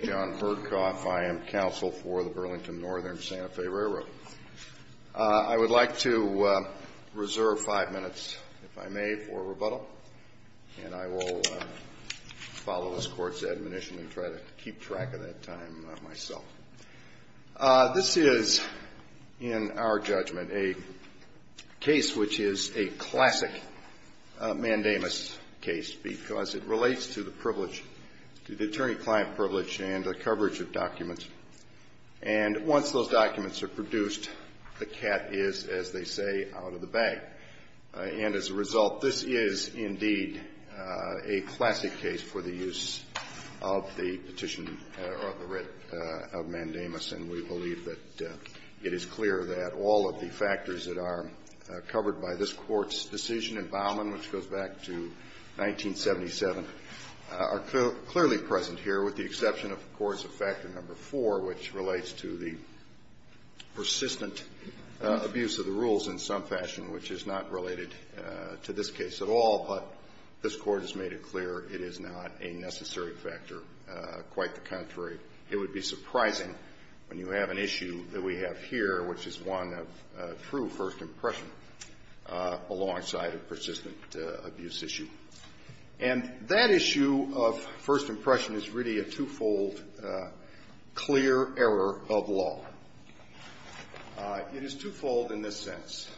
I am counsel for the Burlington Northern, Santa Fe Railroad. I would like to reserve five minutes, if I may, for rebuttal, and I will follow this court's admonition and try to keep track of that time myself. This is, in our judgment, a case which is a classic mandamus case because it relates to the privilege, to the attorney-client privilege and the coverage of documents. And once those documents are produced, the cat is, as they say, out of the bag. And as a result, this is, indeed, a classic case for the use of the petition or the writ of mandamus, and we believe that it is clear that all of the factors that are back to 1977 are clearly present here, with the exception, of course, of Factor No. 4, which relates to the persistent abuse of the rules in some fashion, which is not related to this case at all, but this Court has made it clear it is not a necessary factor, quite the contrary. It would be surprising when you have an issue that we have here, which is one of true first impression, alongside a persistent abuse issue. And that issue of first impression is really a twofold clear error of law. It is twofold in this sense.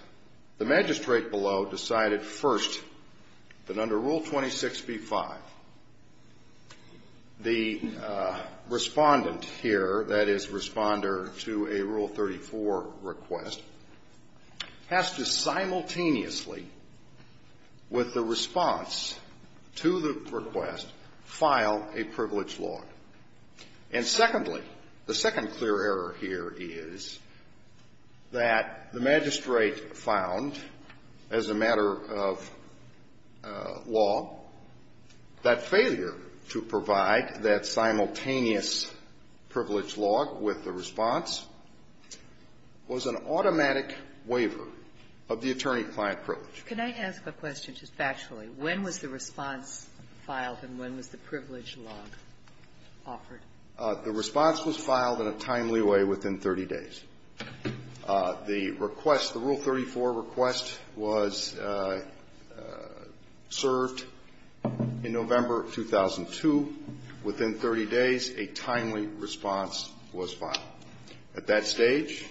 The magistrate below decided first that under Rule 26b-5, the respondent here, that is, responder to a Rule 34 request, has to simultaneously, with the response to the request, file a privilege log. And secondly, the second clear error here is that the magistrate found, as a matter of law, that failure to provide that simultaneous privilege log with the response was an automatic waiver of the attorney-client privilege. Can I ask a question just factually? When was the response filed and when was the privilege log offered? The response was filed in a timely way within 30 days. The request, the Rule 34 request was served in November of 2002. Within 30 days, a timely response was filed. At that stage,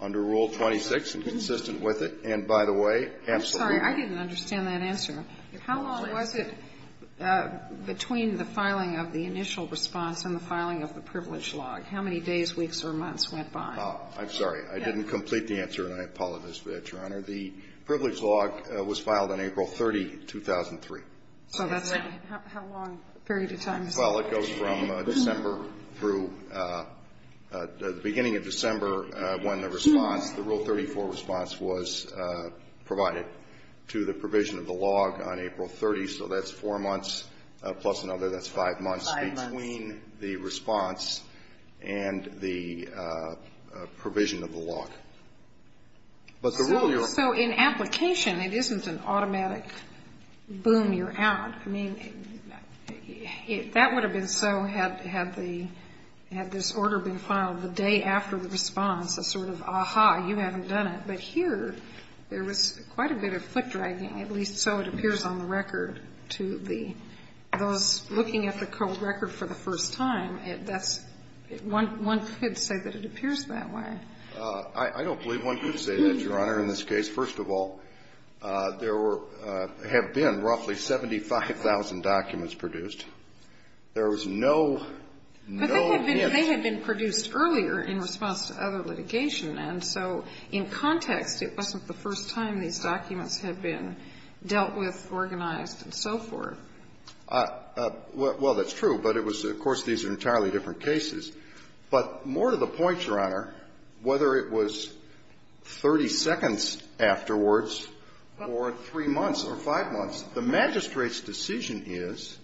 under Rule 26, and consistent with it, and by the way, absolutely I'm sorry. I didn't understand that answer. How long was it between the filing of the initial response and the filing of the privilege log? How many days, weeks, or months went by? I'm sorry. I didn't complete the answer, and I apologize for that, Your Honor. The privilege log was filed on April 30, 2003. So that's how long a period of time? Well, it goes from December through the beginning of December when the response, the Rule 34 response was provided to the provision of the log on April 30. So that's four months plus another, that's five months. Five months. That's between the response and the provision of the log. But the Rule, Your Honor So in application, it isn't an automatic boom, you're out. I mean, that would have been so had the, had this order been filed the day after the response, a sort of ah-ha, you haven't done it. But here, there was quite a bit of foot-dragging, at least so it appears on the record, to the, those looking at the cold record for the first time, that's, one could say that it appears that way. I don't believe one could say that, Your Honor, in this case. First of all, there were, have been roughly 75,000 documents produced. There was no, no, yes. But they had been produced earlier in response to other litigation. And so in context, it wasn't the first time these documents had been dealt with, organized, and so forth. Well, that's true. But it was, of course, these are entirely different cases. But more to the point, Your Honor, whether it was 30 seconds afterwards or 3 months or 5 months, the magistrate's decision is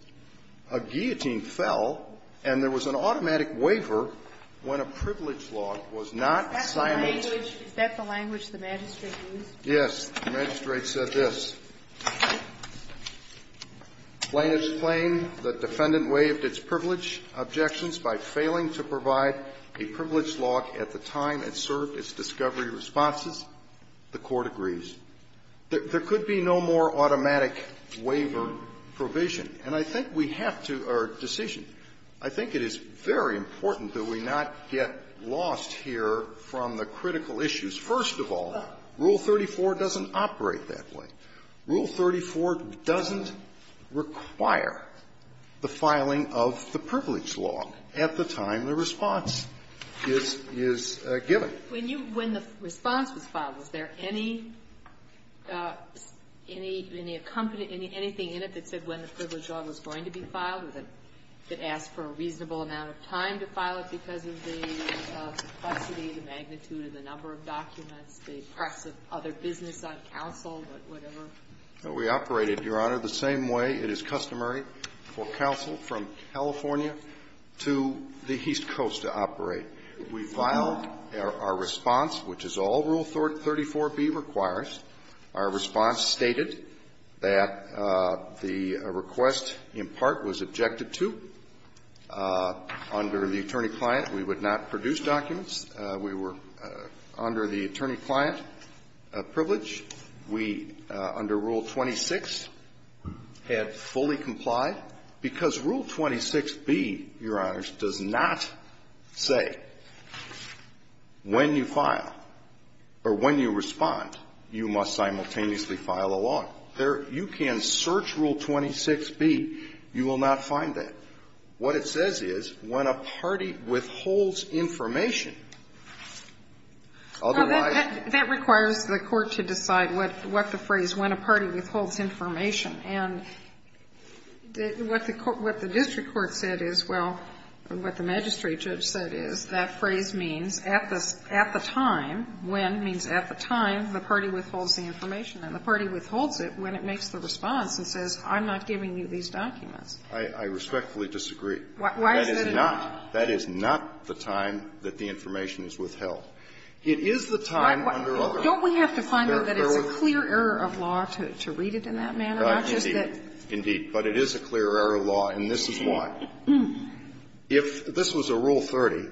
a guillotine fell and there was an automatic waiver when a privilege log was not signed. Is that the language the magistrate used? Yes. The magistrate said this, plain and plain, the defendant waived its privilege objections by failing to provide a privilege log at the time it served its discovery responses. The Court agrees. There could be no more automatic waiver provision. And I think we have to, our decision, I think it is very important that we not get lost here from the critical issues. First of all, Rule 34 doesn't operate that way. Rule 34 doesn't require the filing of the privilege log at the time the response is, is given. When you, when the response was filed, was there any, any, any accompaniment, anything in it that said when the privilege log was going to be filed, that it asked for a reasonable amount of time to file it because of the complexity, the magnitude of the number of documents, the presence of other business on counsel, whatever? We operated, Your Honor, the same way it is customary for counsel from California to the East Coast to operate. We filed our response, which is all Rule 34b requires. Our response stated that the request in part was objected to. Under the attorney client, we would not produce documents. We were, under the attorney client privilege, we, under Rule 26, had fully complied. Because Rule 26b, Your Honors, does not say when you file or when you respond, you must simultaneously file a log. There, you can search Rule 26b. You will not find that. What it says is when a party withholds information, otherwise you will not find it. That requires the Court to decide what the phrase, when a party withholds information. And what the court, what the district court said is, well, what the magistrate judge said is, that phrase means at the time, when, means at the time the party withholds the information. And the party withholds it when it makes the response and says, I'm not giving you these documents. I respectfully disagree. Why is that a no? That is not the time that the information is withheld. It is the time under a law. Don't we have to find out that it's a clear error of law to read it in that manner? Not just that. Indeed. But it is a clear error of law, and this is why. If this was a Rule 30,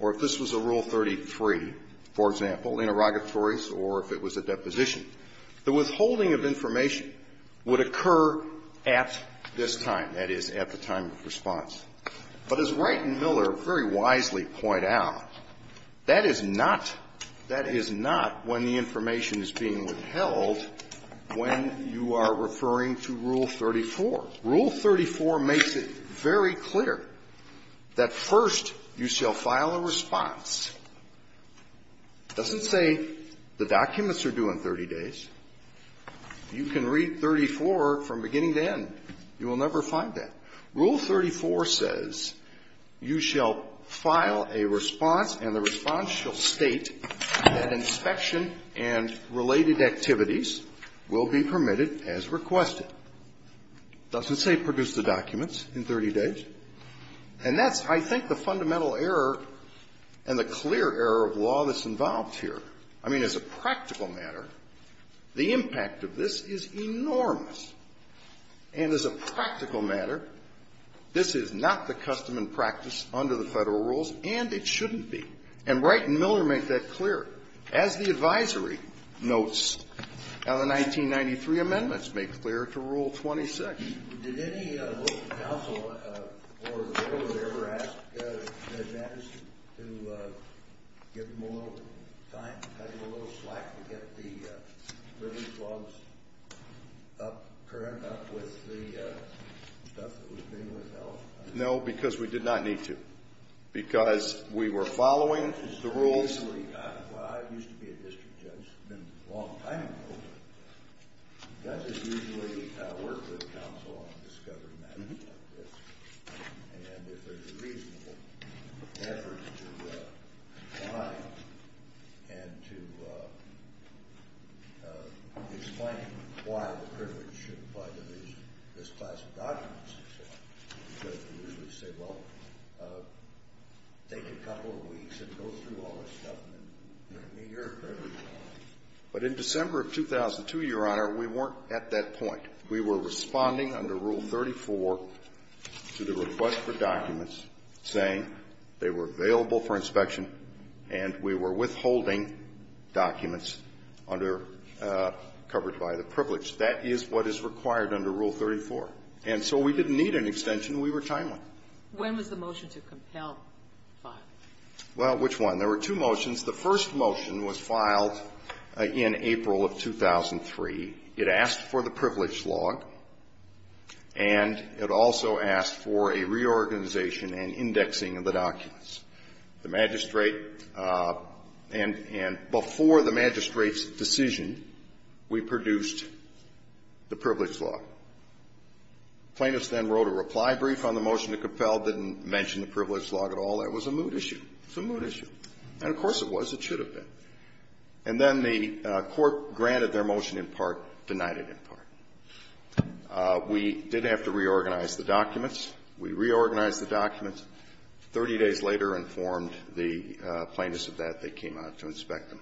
or if this was a Rule 33, for example, interrogatories or if it was a deposition, the withholding of information would occur at this time, that is, at the time of response. But as Wright and Miller very wisely point out, that is not, that is not when the information is being withheld when you are referring to Rule 34. Rule 34 makes it very clear that first you shall file a response. It doesn't say the documents are due in 30 days. You can read 34 from beginning to end. You will never find that. Rule 34 says you shall file a response, and the response shall state that inspection and related activities will be permitted as requested. It doesn't say produce the documents in 30 days. And that's, I think, the fundamental error and the clear error of law that's involved here. I mean, as a practical matter, the impact of this is enormous. And as a practical matter, this is not the custom and practice under the Federal rules, and it shouldn't be. And Wright and Miller make that clear. As the advisory notes, the 1993 amendments make clear to Rule 26. Did any local council or the Board of Editors ever ask Ed Matteson to give him a little time, give him a little slack to get the river floods up, current up with the stuff that was being withheld? No, because we did not need to. Because we were following the rules. Well, I used to be a district judge. It's been a long time ago, but judges usually work with counsel on discovery matters like this. And if there's a reasonable effort to find and to explain why the privilege shouldn't apply to this class of documents and so on, judges usually say, well, take a couple of minutes, let me hear it for a little while. But in December of 2002, Your Honor, we weren't at that point. We were responding under Rule 34 to the request for documents, saying they were available for inspection, and we were withholding documents under the privilege. That is what is required under Rule 34. And so we didn't need an extension. We were timely. When was the motion to compel filing? Well, which one? There were two motions. The first motion was filed in April of 2003. It asked for the privilege log, and it also asked for a reorganization and indexing of the documents. The magistrate and before the magistrate's decision, we produced the privilege log. Plaintiffs then wrote a reply brief on the motion to compel, didn't mention the privilege log at all. That was a mood issue. It's a mood issue. And of course it was. It should have been. And then the Court granted their motion in part, denied it in part. We did have to reorganize the documents. We reorganized the documents. Thirty days later, informed the plaintiffs of that, they came out to inspect them.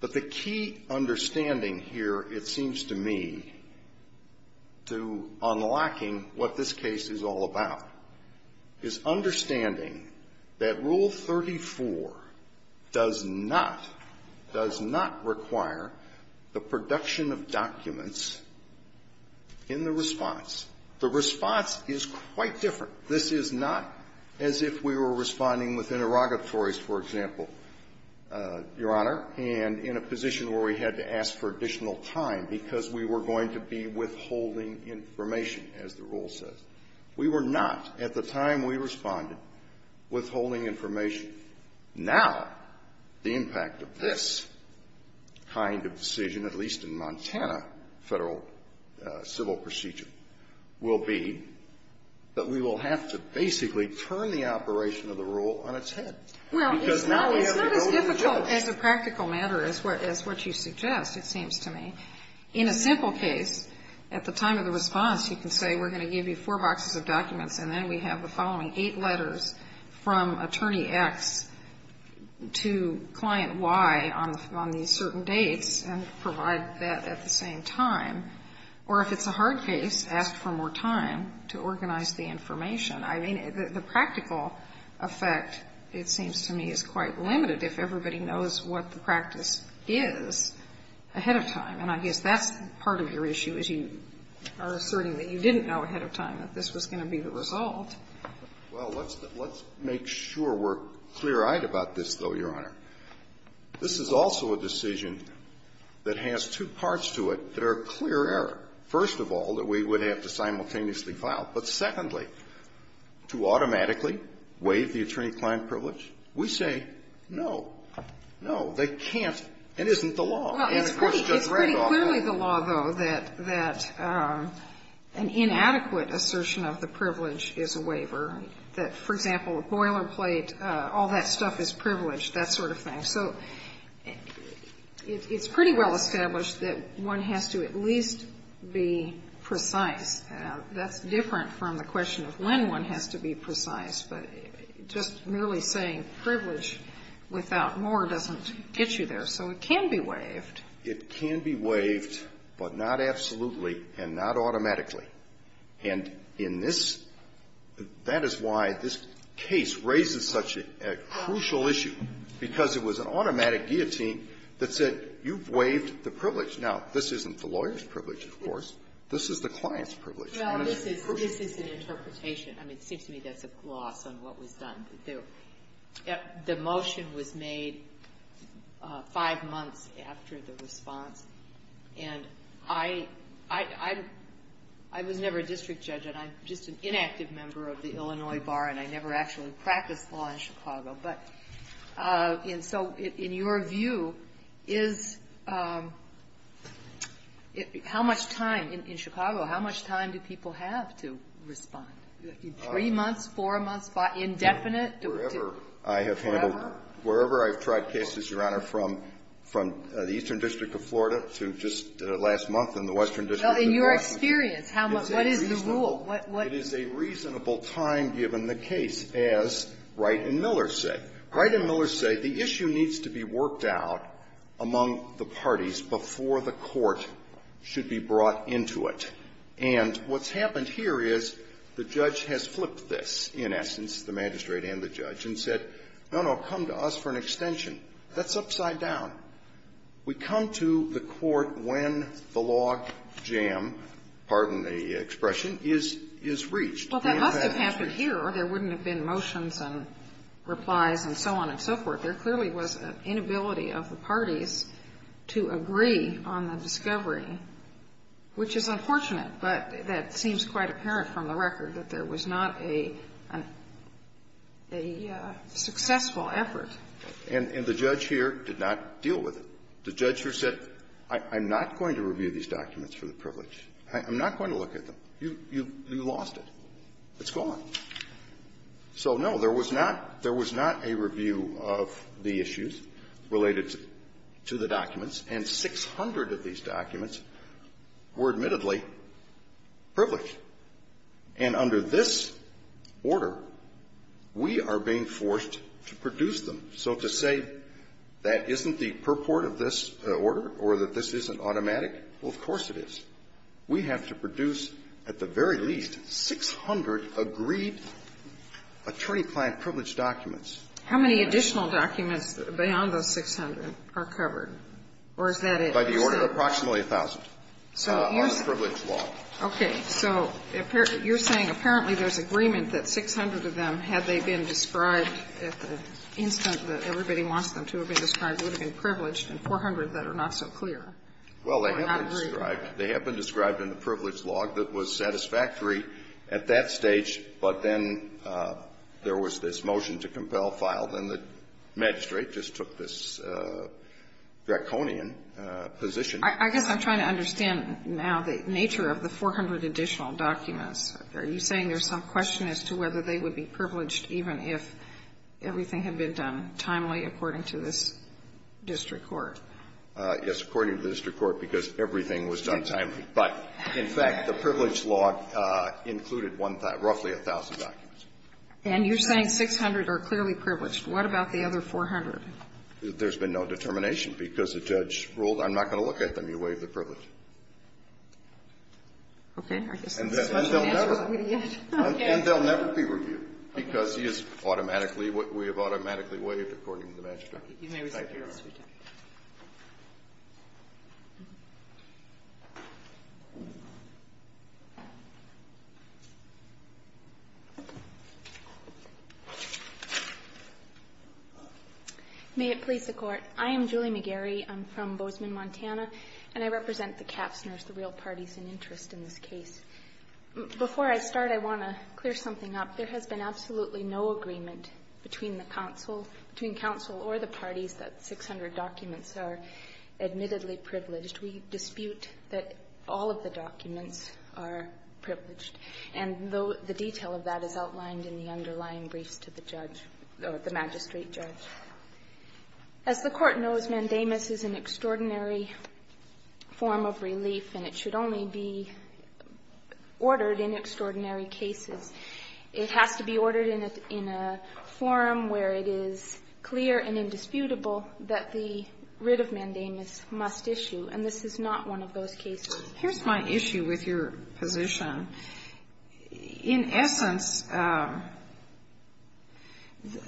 But the key understanding here, it seems to me, to unlocking what this case is all about, is understanding that Rule 34 does not, does not require the production of documents in the response. The response is quite different. This is not as if we were responding with interrogatories, for example, Your Honor, and in a position where we had to ask for additional time because we were going to be withholding information, as the rule says. We were not, at the time we responded, withholding information. Now, the impact of this kind of decision, at least in Montana Federal civil procedure, will be that we will have to basically turn the operation of the rule on its head. Because now we have to go to the courts. Well, it's not as difficult as a practical matter as what you suggest, it seems to me. In a simple case, at the time of the response, you can say, we're going to give you four boxes of documents, and then we have the following eight letters from Attorney X to Client Y on these certain dates, and provide that at the same time. Or if it's a hard case, ask for more time to organize the information. I mean, the practical effect, it seems to me, is quite limited if everybody knows what the practice is ahead of time. And I guess that's part of your issue, is you are asserting that you didn't know ahead of time that this was going to be the result. Well, let's make sure we're clear-eyed about this, though, Your Honor. This is also a decision that has two parts to it that are clear error. First of all, that we would have to simultaneously file. But secondly, to automatically waive the attorney-client privilege, we say, no, no, they can't, it isn't the law. And the question is read off that. Well, it's pretty clearly the law, though, that an inadequate assertion of the privilege is a waiver, that, for example, a boilerplate, all that stuff is privilege, that sort of thing. So it's pretty well established that one has to at least be precise. That's different from the question of when one has to be precise. But just merely saying privilege without more doesn't get you there. So it can be waived. It can be waived, but not absolutely and not automatically. And in this that is why this case raises such a crucial issue, because it was an automatic guillotine that said you've waived the privilege. Now, this isn't the lawyer's privilege, of course. This is the client's privilege. Well, this is an interpretation. I mean, it seems to me that's a gloss on what was done. The motion was made five months after the response. And I was never a district judge. And I'm just an inactive member of the Illinois Bar. And I never actually practiced law in Chicago. But so in your view, how much time in Chicago, how much time do people have to indefinite, to forever? Wherever I have handled, wherever I have tried cases, Your Honor, from the Eastern District of Florida to just last month in the Western District of Washington. In your experience, how much, what is the rule? It is a reasonable time given the case, as Wright and Miller say. Wright and Miller say the issue needs to be worked out among the parties before the court should be brought into it. And what's happened here is the judge has flipped this, in essence, the magistrate and the judge, and said, no, no, come to us for an extension. That's upside down. We come to the court when the log jam, pardon the expression, is reached. Well, that must have happened here, or there wouldn't have been motions and replies and so on and so forth. There clearly was an inability of the parties to agree on the discovery, which is unfortunate but that seems quite apparent from the record that there was not a successful effort. And the judge here did not deal with it. The judge here said, I'm not going to review these documents for the privilege. I'm not going to look at them. You lost it. It's gone. So, no, there was not a review of the issues related to the documents, and 600 of these documents are covered by the privilege law. And under this order, we are being forced to produce them. So to say that isn't the purport of this order or that this isn't automatic, well, of course it is. We have to produce at the very least 600 agreed attorney-client privilege documents. How many additional documents beyond those 600 are covered? Or is that at least a percent? By the order of approximately 1,000. So you're saying you're saying apparently there's agreement that 600 of them, had they been described at the instant that everybody wants them to have been described, would have been privileged, and 400 that are not so clear. Well, they have been described in the privilege law that was satisfactory at that stage, but then there was this motion to compel file, then the magistrate just took this draconian position. I guess I'm trying to understand now the nature of the 400 additional documents. Are you saying there's some question as to whether they would be privileged even if everything had been done timely according to this district court? Yes, according to the district court, because everything was done timely. But, in fact, the privilege law included roughly 1,000 documents. And you're saying 600 are clearly privileged. What about the other 400? There's been no determination, because the judge ruled. I'm not going to look at them. You waived the privilege. Okay. And they'll never be reviewed, because he is automatically, we have automatically waived according to the magistrate. Thank you, Your Honor. May it please the Court. I am Julie McGarry. I'm from Bozeman, Montana, and I represent the Kaffzners, the real parties in interest in this case. Before I start, I want to clear something up. There has been absolutely no agreement between the counsel, between counsel or the parties, that 600 documents are admittedly privileged. We dispute that all of the documents are privileged, and the detail of that is outlined in the underlying briefs to the judge, or the magistrate judge. As the Court knows, mandamus is an extraordinary form of relief, and it should only be ordered in extraordinary cases. It has to be ordered in a forum where it is clear and indisputable that the writ of mandamus must issue, and this is not one of those cases. Here's my issue with your position. In essence,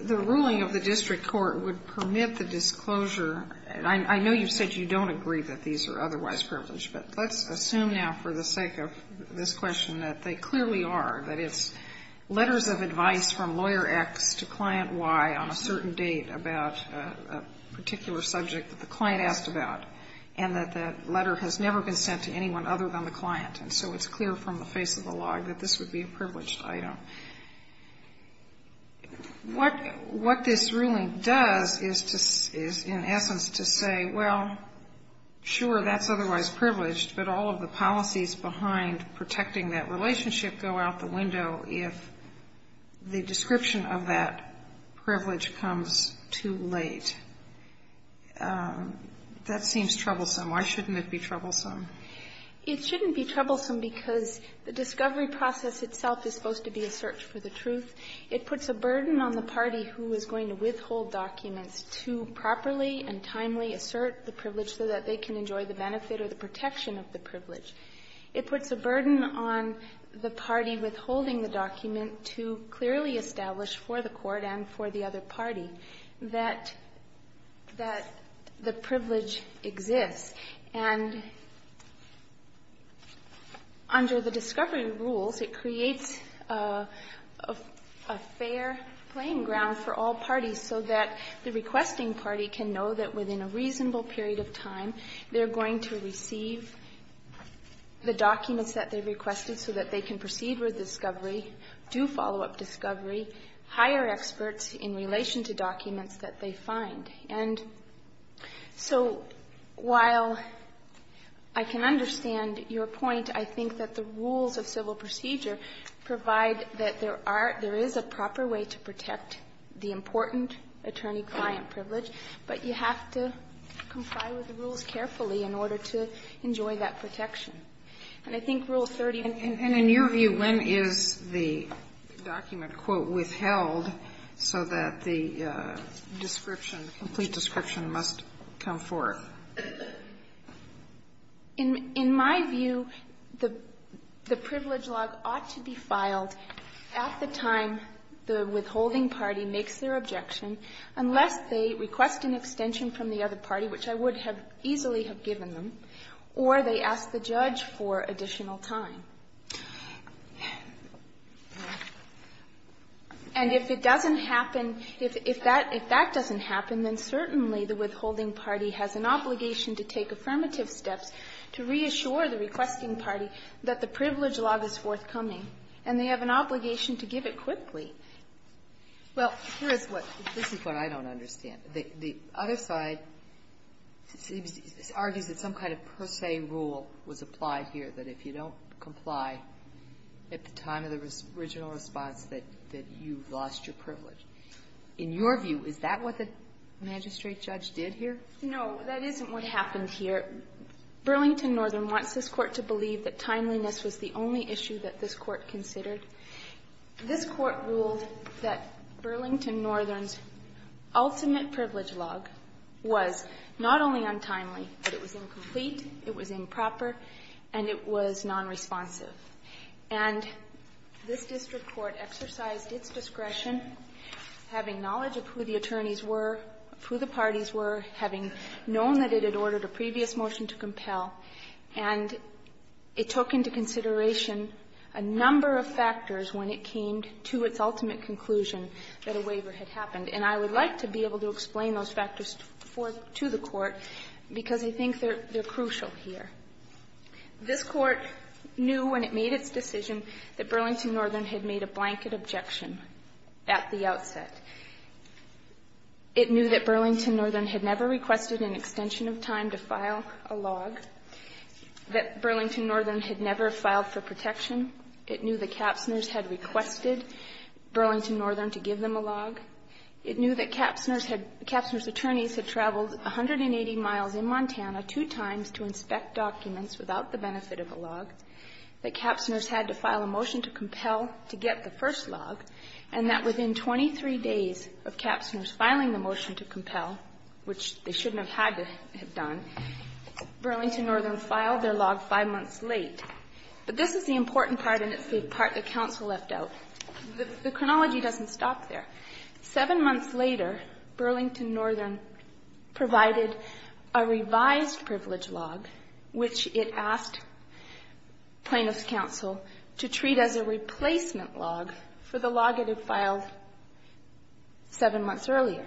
the ruling of the district court would permit the disclosure, and I know you've said you don't agree that these are otherwise privileged, but let's assume now for the sake of this question that they clearly are, that it's letters of advice from Lawyer X to Client Y on a certain date about a particular subject that the client asked about, and that that letter has never been sent to anyone other than the client. And so it's clear from the face of the log that this would be a privileged item. What this ruling does is to say, in essence, to say, well, sure, that's otherwise privileged, but all of the policies behind protecting that relationship go out the window if the description of that privilege comes too late. That seems troublesome. Why shouldn't it be troublesome? It shouldn't be troublesome because the discovery process itself is supposed to be a search for the truth. It puts a burden on the party who is going to withhold documents to properly and timely assert the privilege so that they can enjoy the benefit or the protection of the privilege. It puts a burden on the party withholding the document to clearly establish for the Court and for the other party that the privilege exists. And under the discovery rules, it creates a fair playing ground for all parties so that the requesting party can know that within a reasonable period of time, they're going to receive the documents that they requested so that they can proceed with discovery, do follow-up discovery, hire experts in relation to documents that they find. And so while I can understand your point, I think that the rules of civil procedure provide that there are – there is a proper way to protect the important attorney-client privilege, but you have to comply with the rules carefully in order to enjoy that protection. And I think Rule 30 can be used for that. So that the description, complete description, must come forth. In my view, the privilege log ought to be filed at the time the withholding party makes their objection unless they request an extension from the other party, which I would have easily have given them, or they ask the judge for additional time. And if it doesn't happen, if that doesn't happen, then certainly the withholding party has an obligation to take affirmative steps to reassure the requesting party that the privilege log is forthcoming, and they have an obligation to give it quickly. Well, here is what – this is what I don't understand. The other side argues that some kind of per se rule was applied here, that if you don't comply at the time of the original response, that you lost your privilege. In your view, is that what the magistrate judge did here? No, that isn't what happened here. Burlington Northern wants this Court to believe that timeliness was the only issue that this Court considered. This Court ruled that Burlington Northern's ultimate privilege log was not only untimely, but it was incomplete, it was improper, and it was nonresponsive. And this district court exercised its discretion, having knowledge of who the attorneys were, of who the parties were, having known that it had ordered a previous motion to compel, and it took into consideration a number of factors when it came to its ultimate conclusion that a waiver had happened. And I would like to be able to explain those factors to the Court because I think they're crucial here. This Court knew when it made its decision that Burlington Northern had made a blanket objection at the outset. It knew that Burlington Northern had never requested an extension of time to file a log, that Burlington Northern had never filed for protection. It knew that Kapsner's had requested Burlington Northern to give them a log. It knew that Kapsner's attorneys had traveled 180 miles in Montana two times to inspect documents without the benefit of a log, that Kapsner's had to file a motion to compel to get the first log, and that within 23 days of Kapsner's filing the motion to compel, which they shouldn't have had to have done, Burlington Northern filed their log five months late. But this is the important part, and it's the part that counsel left out. The chronology doesn't stop there. Seven months later, Burlington Northern provided a revised privilege log, which it asked plaintiff's counsel to treat as a replacement log for the log it had filed seven months earlier.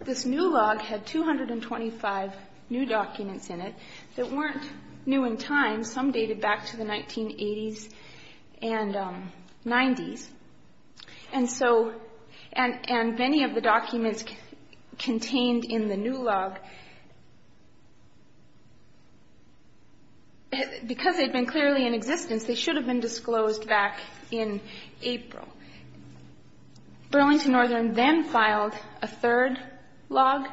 This new log had 225 new documents in it that weren't new in time. Some dated back to the 1980s and 90s. And so and many of the documents contained in the new log, because they had been clearly in existence, they should have been disclosed back in April. Burlington Northern then filed a third log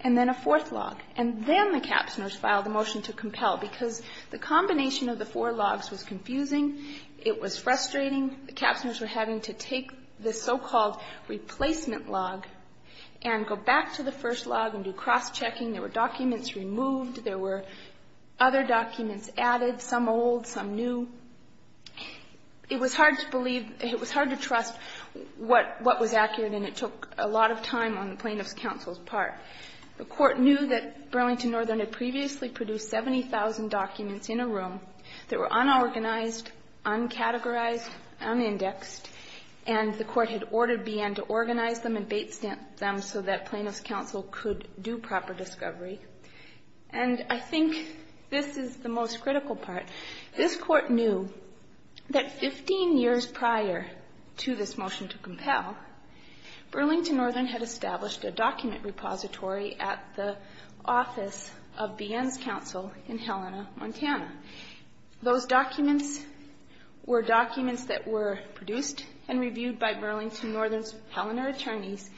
and then a fourth log. And then the Kapsners filed a motion to compel, because the combination of the four logs was confusing. It was frustrating. The Kapsners were having to take this so-called replacement log and go back to the first log and do cross-checking. There were documents removed. There were other documents added, some old, some new. It was hard to believe. It was hard to trust what was accurate, and it took a lot of time on the plaintiff's counsel's part. The Court knew that Burlington Northern had previously produced 70,000 documents in a room that were unorganized, uncategorized, unindexed, and the Court had ordered BN to organize them and bait stamp them so that plaintiff's counsel could do proper discovery. And I think this is the most critical part. This Court knew that 15 years prior to this motion to compel, Burlington Northern had established a document repository at the office of BN's counsel in Helena, Montana. Those documents were documents that were produced and reviewed by Burlington Northern's Helena attorneys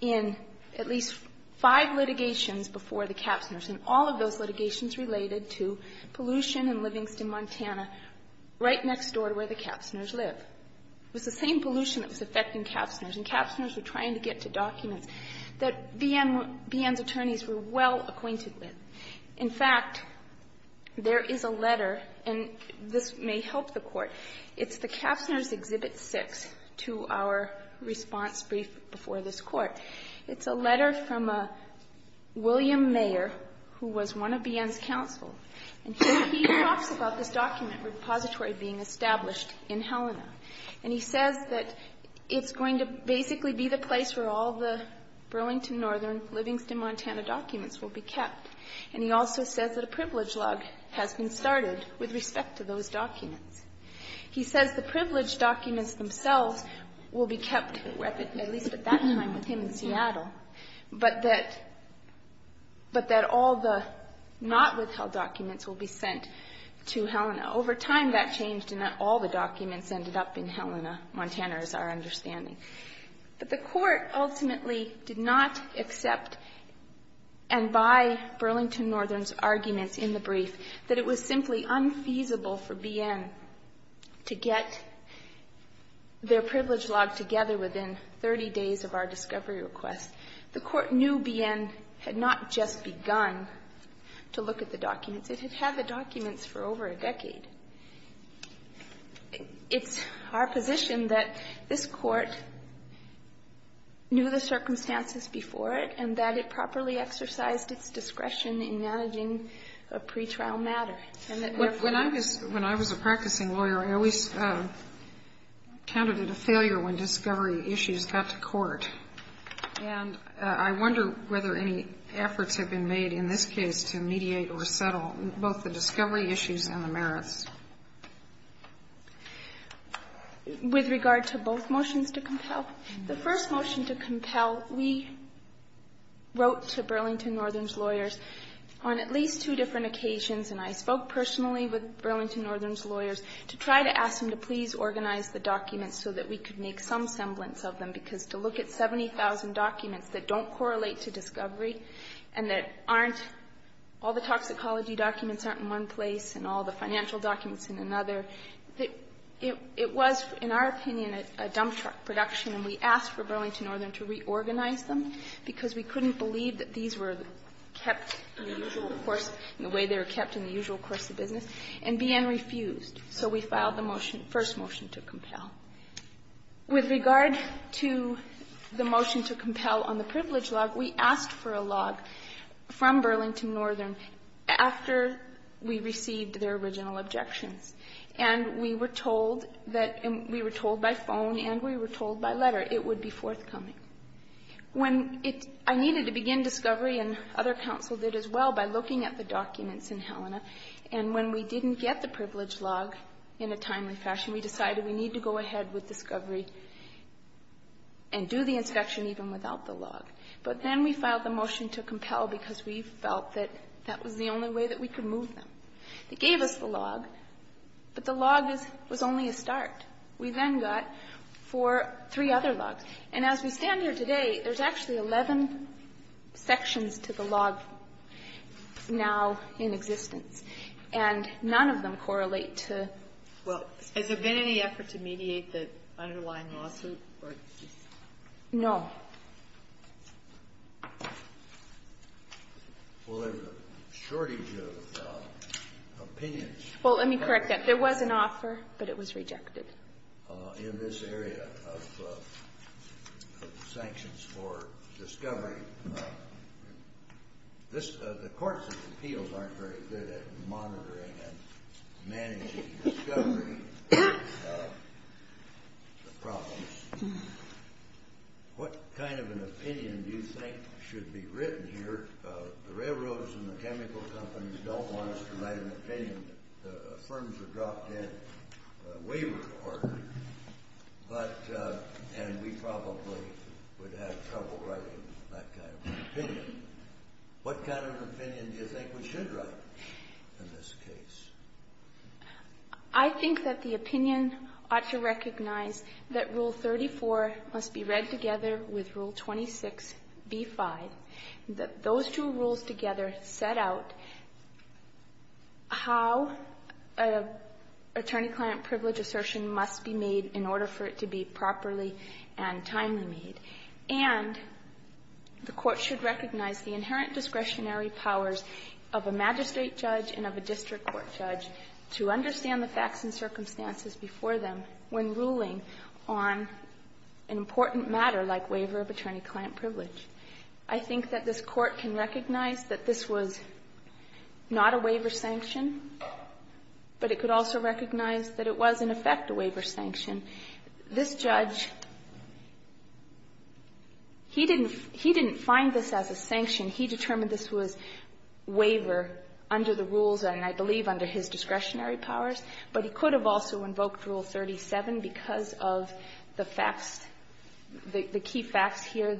in at least five litigations before the Kapsners, and all of those litigations took place in Burlington, Montana, right next door to where the Kapsners live. It was the same pollution that was affecting Kapsners, and Kapsners were trying to get to documents that BN's attorneys were well acquainted with. In fact, there is a letter, and this may help the Court, it's the Kapsners Exhibit 6 to our response brief before this Court. It's a letter from a William Mayer, who was one of BN's counsel. And he talks about this document repository being established in Helena. And he says that it's going to basically be the place where all the Burlington Northern Livingston, Montana documents will be kept. And he also says that a privilege log has been started with respect to those documents. He says the privilege documents themselves will be kept at least at that time with in Seattle, but that all the not withheld documents will be sent to Helena. Over time, that changed, and not all the documents ended up in Helena, Montana, is our understanding. But the Court ultimately did not accept and buy Burlington Northern's arguments in the brief that it was simply unfeasible for BN to get their privilege log together within 30 days of our discovery request. The Court knew BN had not just begun to look at the documents. It had had the documents for over a decade. It's our position that this Court knew the circumstances before it and that it properly exercised its discretion in managing a pretrial matter. When I was a practicing lawyer, I always counted it a failure when discovery issues got to court. And I wonder whether any efforts have been made in this case to mediate or settle both the discovery issues and the merits. With regard to both motions to compel, the first motion to compel, we wrote to Burlington Northern on many occasions, and I spoke personally with Burlington Northern's lawyers to try to ask them to please organize the documents so that we could make some semblance of them, because to look at 70,000 documents that don't correlate to discovery and that aren't all the toxicology documents aren't in one place and all the financial documents in another, it was, in our opinion, a dump truck production, and we asked for Burlington Northern to reorganize them because we couldn't believe that these were kept in the usual course, the way they were kept in the usual course of business, and BN refused. So we filed the motion, first motion to compel. With regard to the motion to compel on the privilege log, we asked for a log from Burlington Northern after we received their original objections. And we were told that we were told by phone and we were told by letter it would be forthcoming. When I needed to begin discovery, and other counsel did as well, by looking at the documents in Helena, and when we didn't get the privilege log in a timely fashion, we decided we need to go ahead with discovery and do the inspection even without the log. But then we filed the motion to compel because we felt that that was the only way that we could move them. It gave us the log, but the log was only a start. We then got four, three other logs. And as we stand here today, there's actually 11 sections to the log now in existence, and none of them correlate to the other. Kagan. Well, has there been any effort to mediate the underlying lawsuit? No. Well, there's a shortage of opinions. Well, let me correct that. There was an offer, but it was rejected. In this area of sanctions for discovery, this the courts' appeals aren't very good at monitoring and managing discovery of the problems. What kind of an opinion do you think should be written here? The railroads and the chemical companies don't want us to write an opinion. The firms are dropped in a waiver order, and we probably would have trouble writing that kind of an opinion. What kind of an opinion do you think we should write in this case? I think that the opinion ought to recognize that Rule 34 must be read together with Rule 26b-5, that those two rules together set out how an attorney-client privilege assertion must be made in order for it to be properly and timely made. And the Court should recognize the inherent discretionary powers of a magistrate judge and of a district court judge to understand the facts and circumstances before them when ruling on an important matter like waiver of attorney-client privilege. I think that this Court can recognize that this was not a waiver sanction, but it could also recognize that it was, in effect, a waiver sanction. This judge, he didn't find this as a sanction. He determined this was waiver under the rules, and I believe under his discretionary powers, but he could have also invoked Rule 37 because of the facts, the key facts here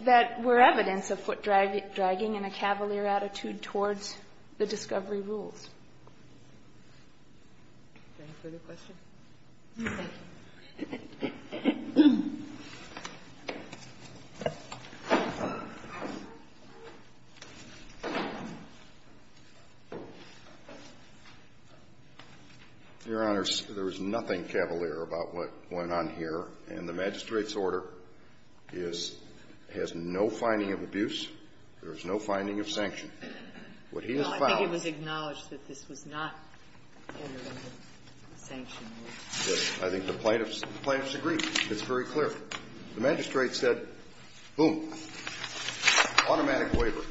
that were evidence of foot-dragging and a cavalier attitude towards the discovery rules. Do you have any further questions? Your Honors, there is nothing cavalier about what went on here, and the magistrate's order is no finding of abuse, there is no finding of sanction. privilege. I think the plaintiffs agree. It's very clear. The magistrate said, boom, automatic waiver.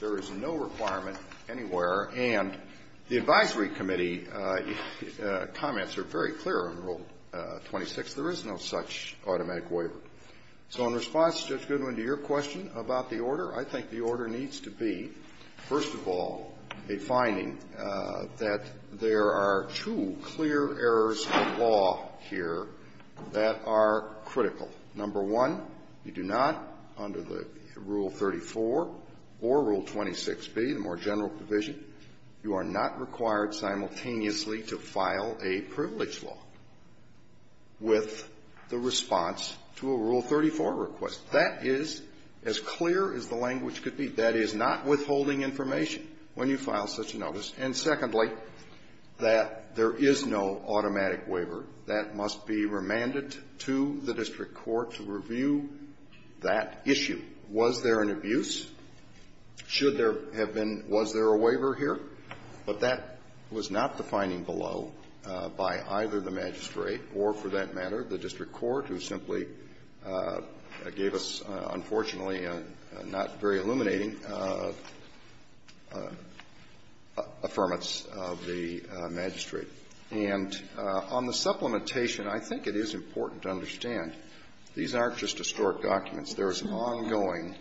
There is no requirement anywhere, and the advisory committee comments are very clear on Rule 26. There is no such automatic waiver. So in response to Judge Goodwin to your question about the order, I think the order needs to be, first of all, a finding that there are two clear errors of law here that are critical. Number one, you do not, under the Rule 34 or Rule 26b, the more general provision, you are not required simultaneously to file a privilege law with the response to a Rule 34 request. That is as clear as the language could be. That is not withholding information when you file such a notice. And secondly, that there is no automatic waiver. That must be remanded to the district court to review that issue. Was there an abuse? Should there have been? Was there a waiver here? But that was not the finding below by either the magistrate or, for that matter, the district court, who simply gave us, unfortunately, a not very illuminating affirmance of the magistrate. And on the supplementation, I think it is important to understand these aren't just historic documents. There is ongoing,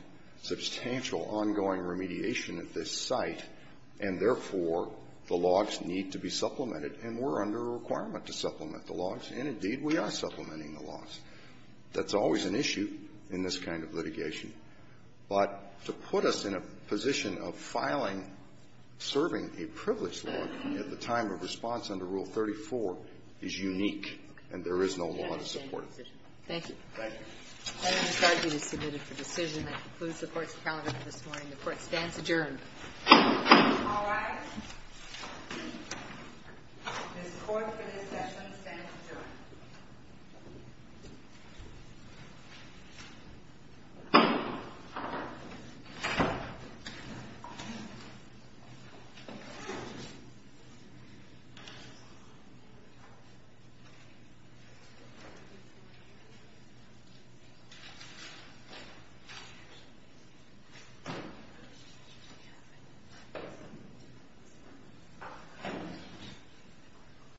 substantial ongoing remediation at this site, and therefore, the logs need to be supplemented, and we're under a requirement to supplement the logs, and indeed, we are supplementing the logs. That's always an issue in this kind of litigation. But to put us in a position of filing, serving a privilege law at the time of response under Rule 34 is unique, and there is no law to support it. Thank you. Thank you. The case is submitted for decision. That concludes the Court's parliament this morning. The Court stands adjourned. All rise. This Court for this session stands adjourned. This Court is adjourned.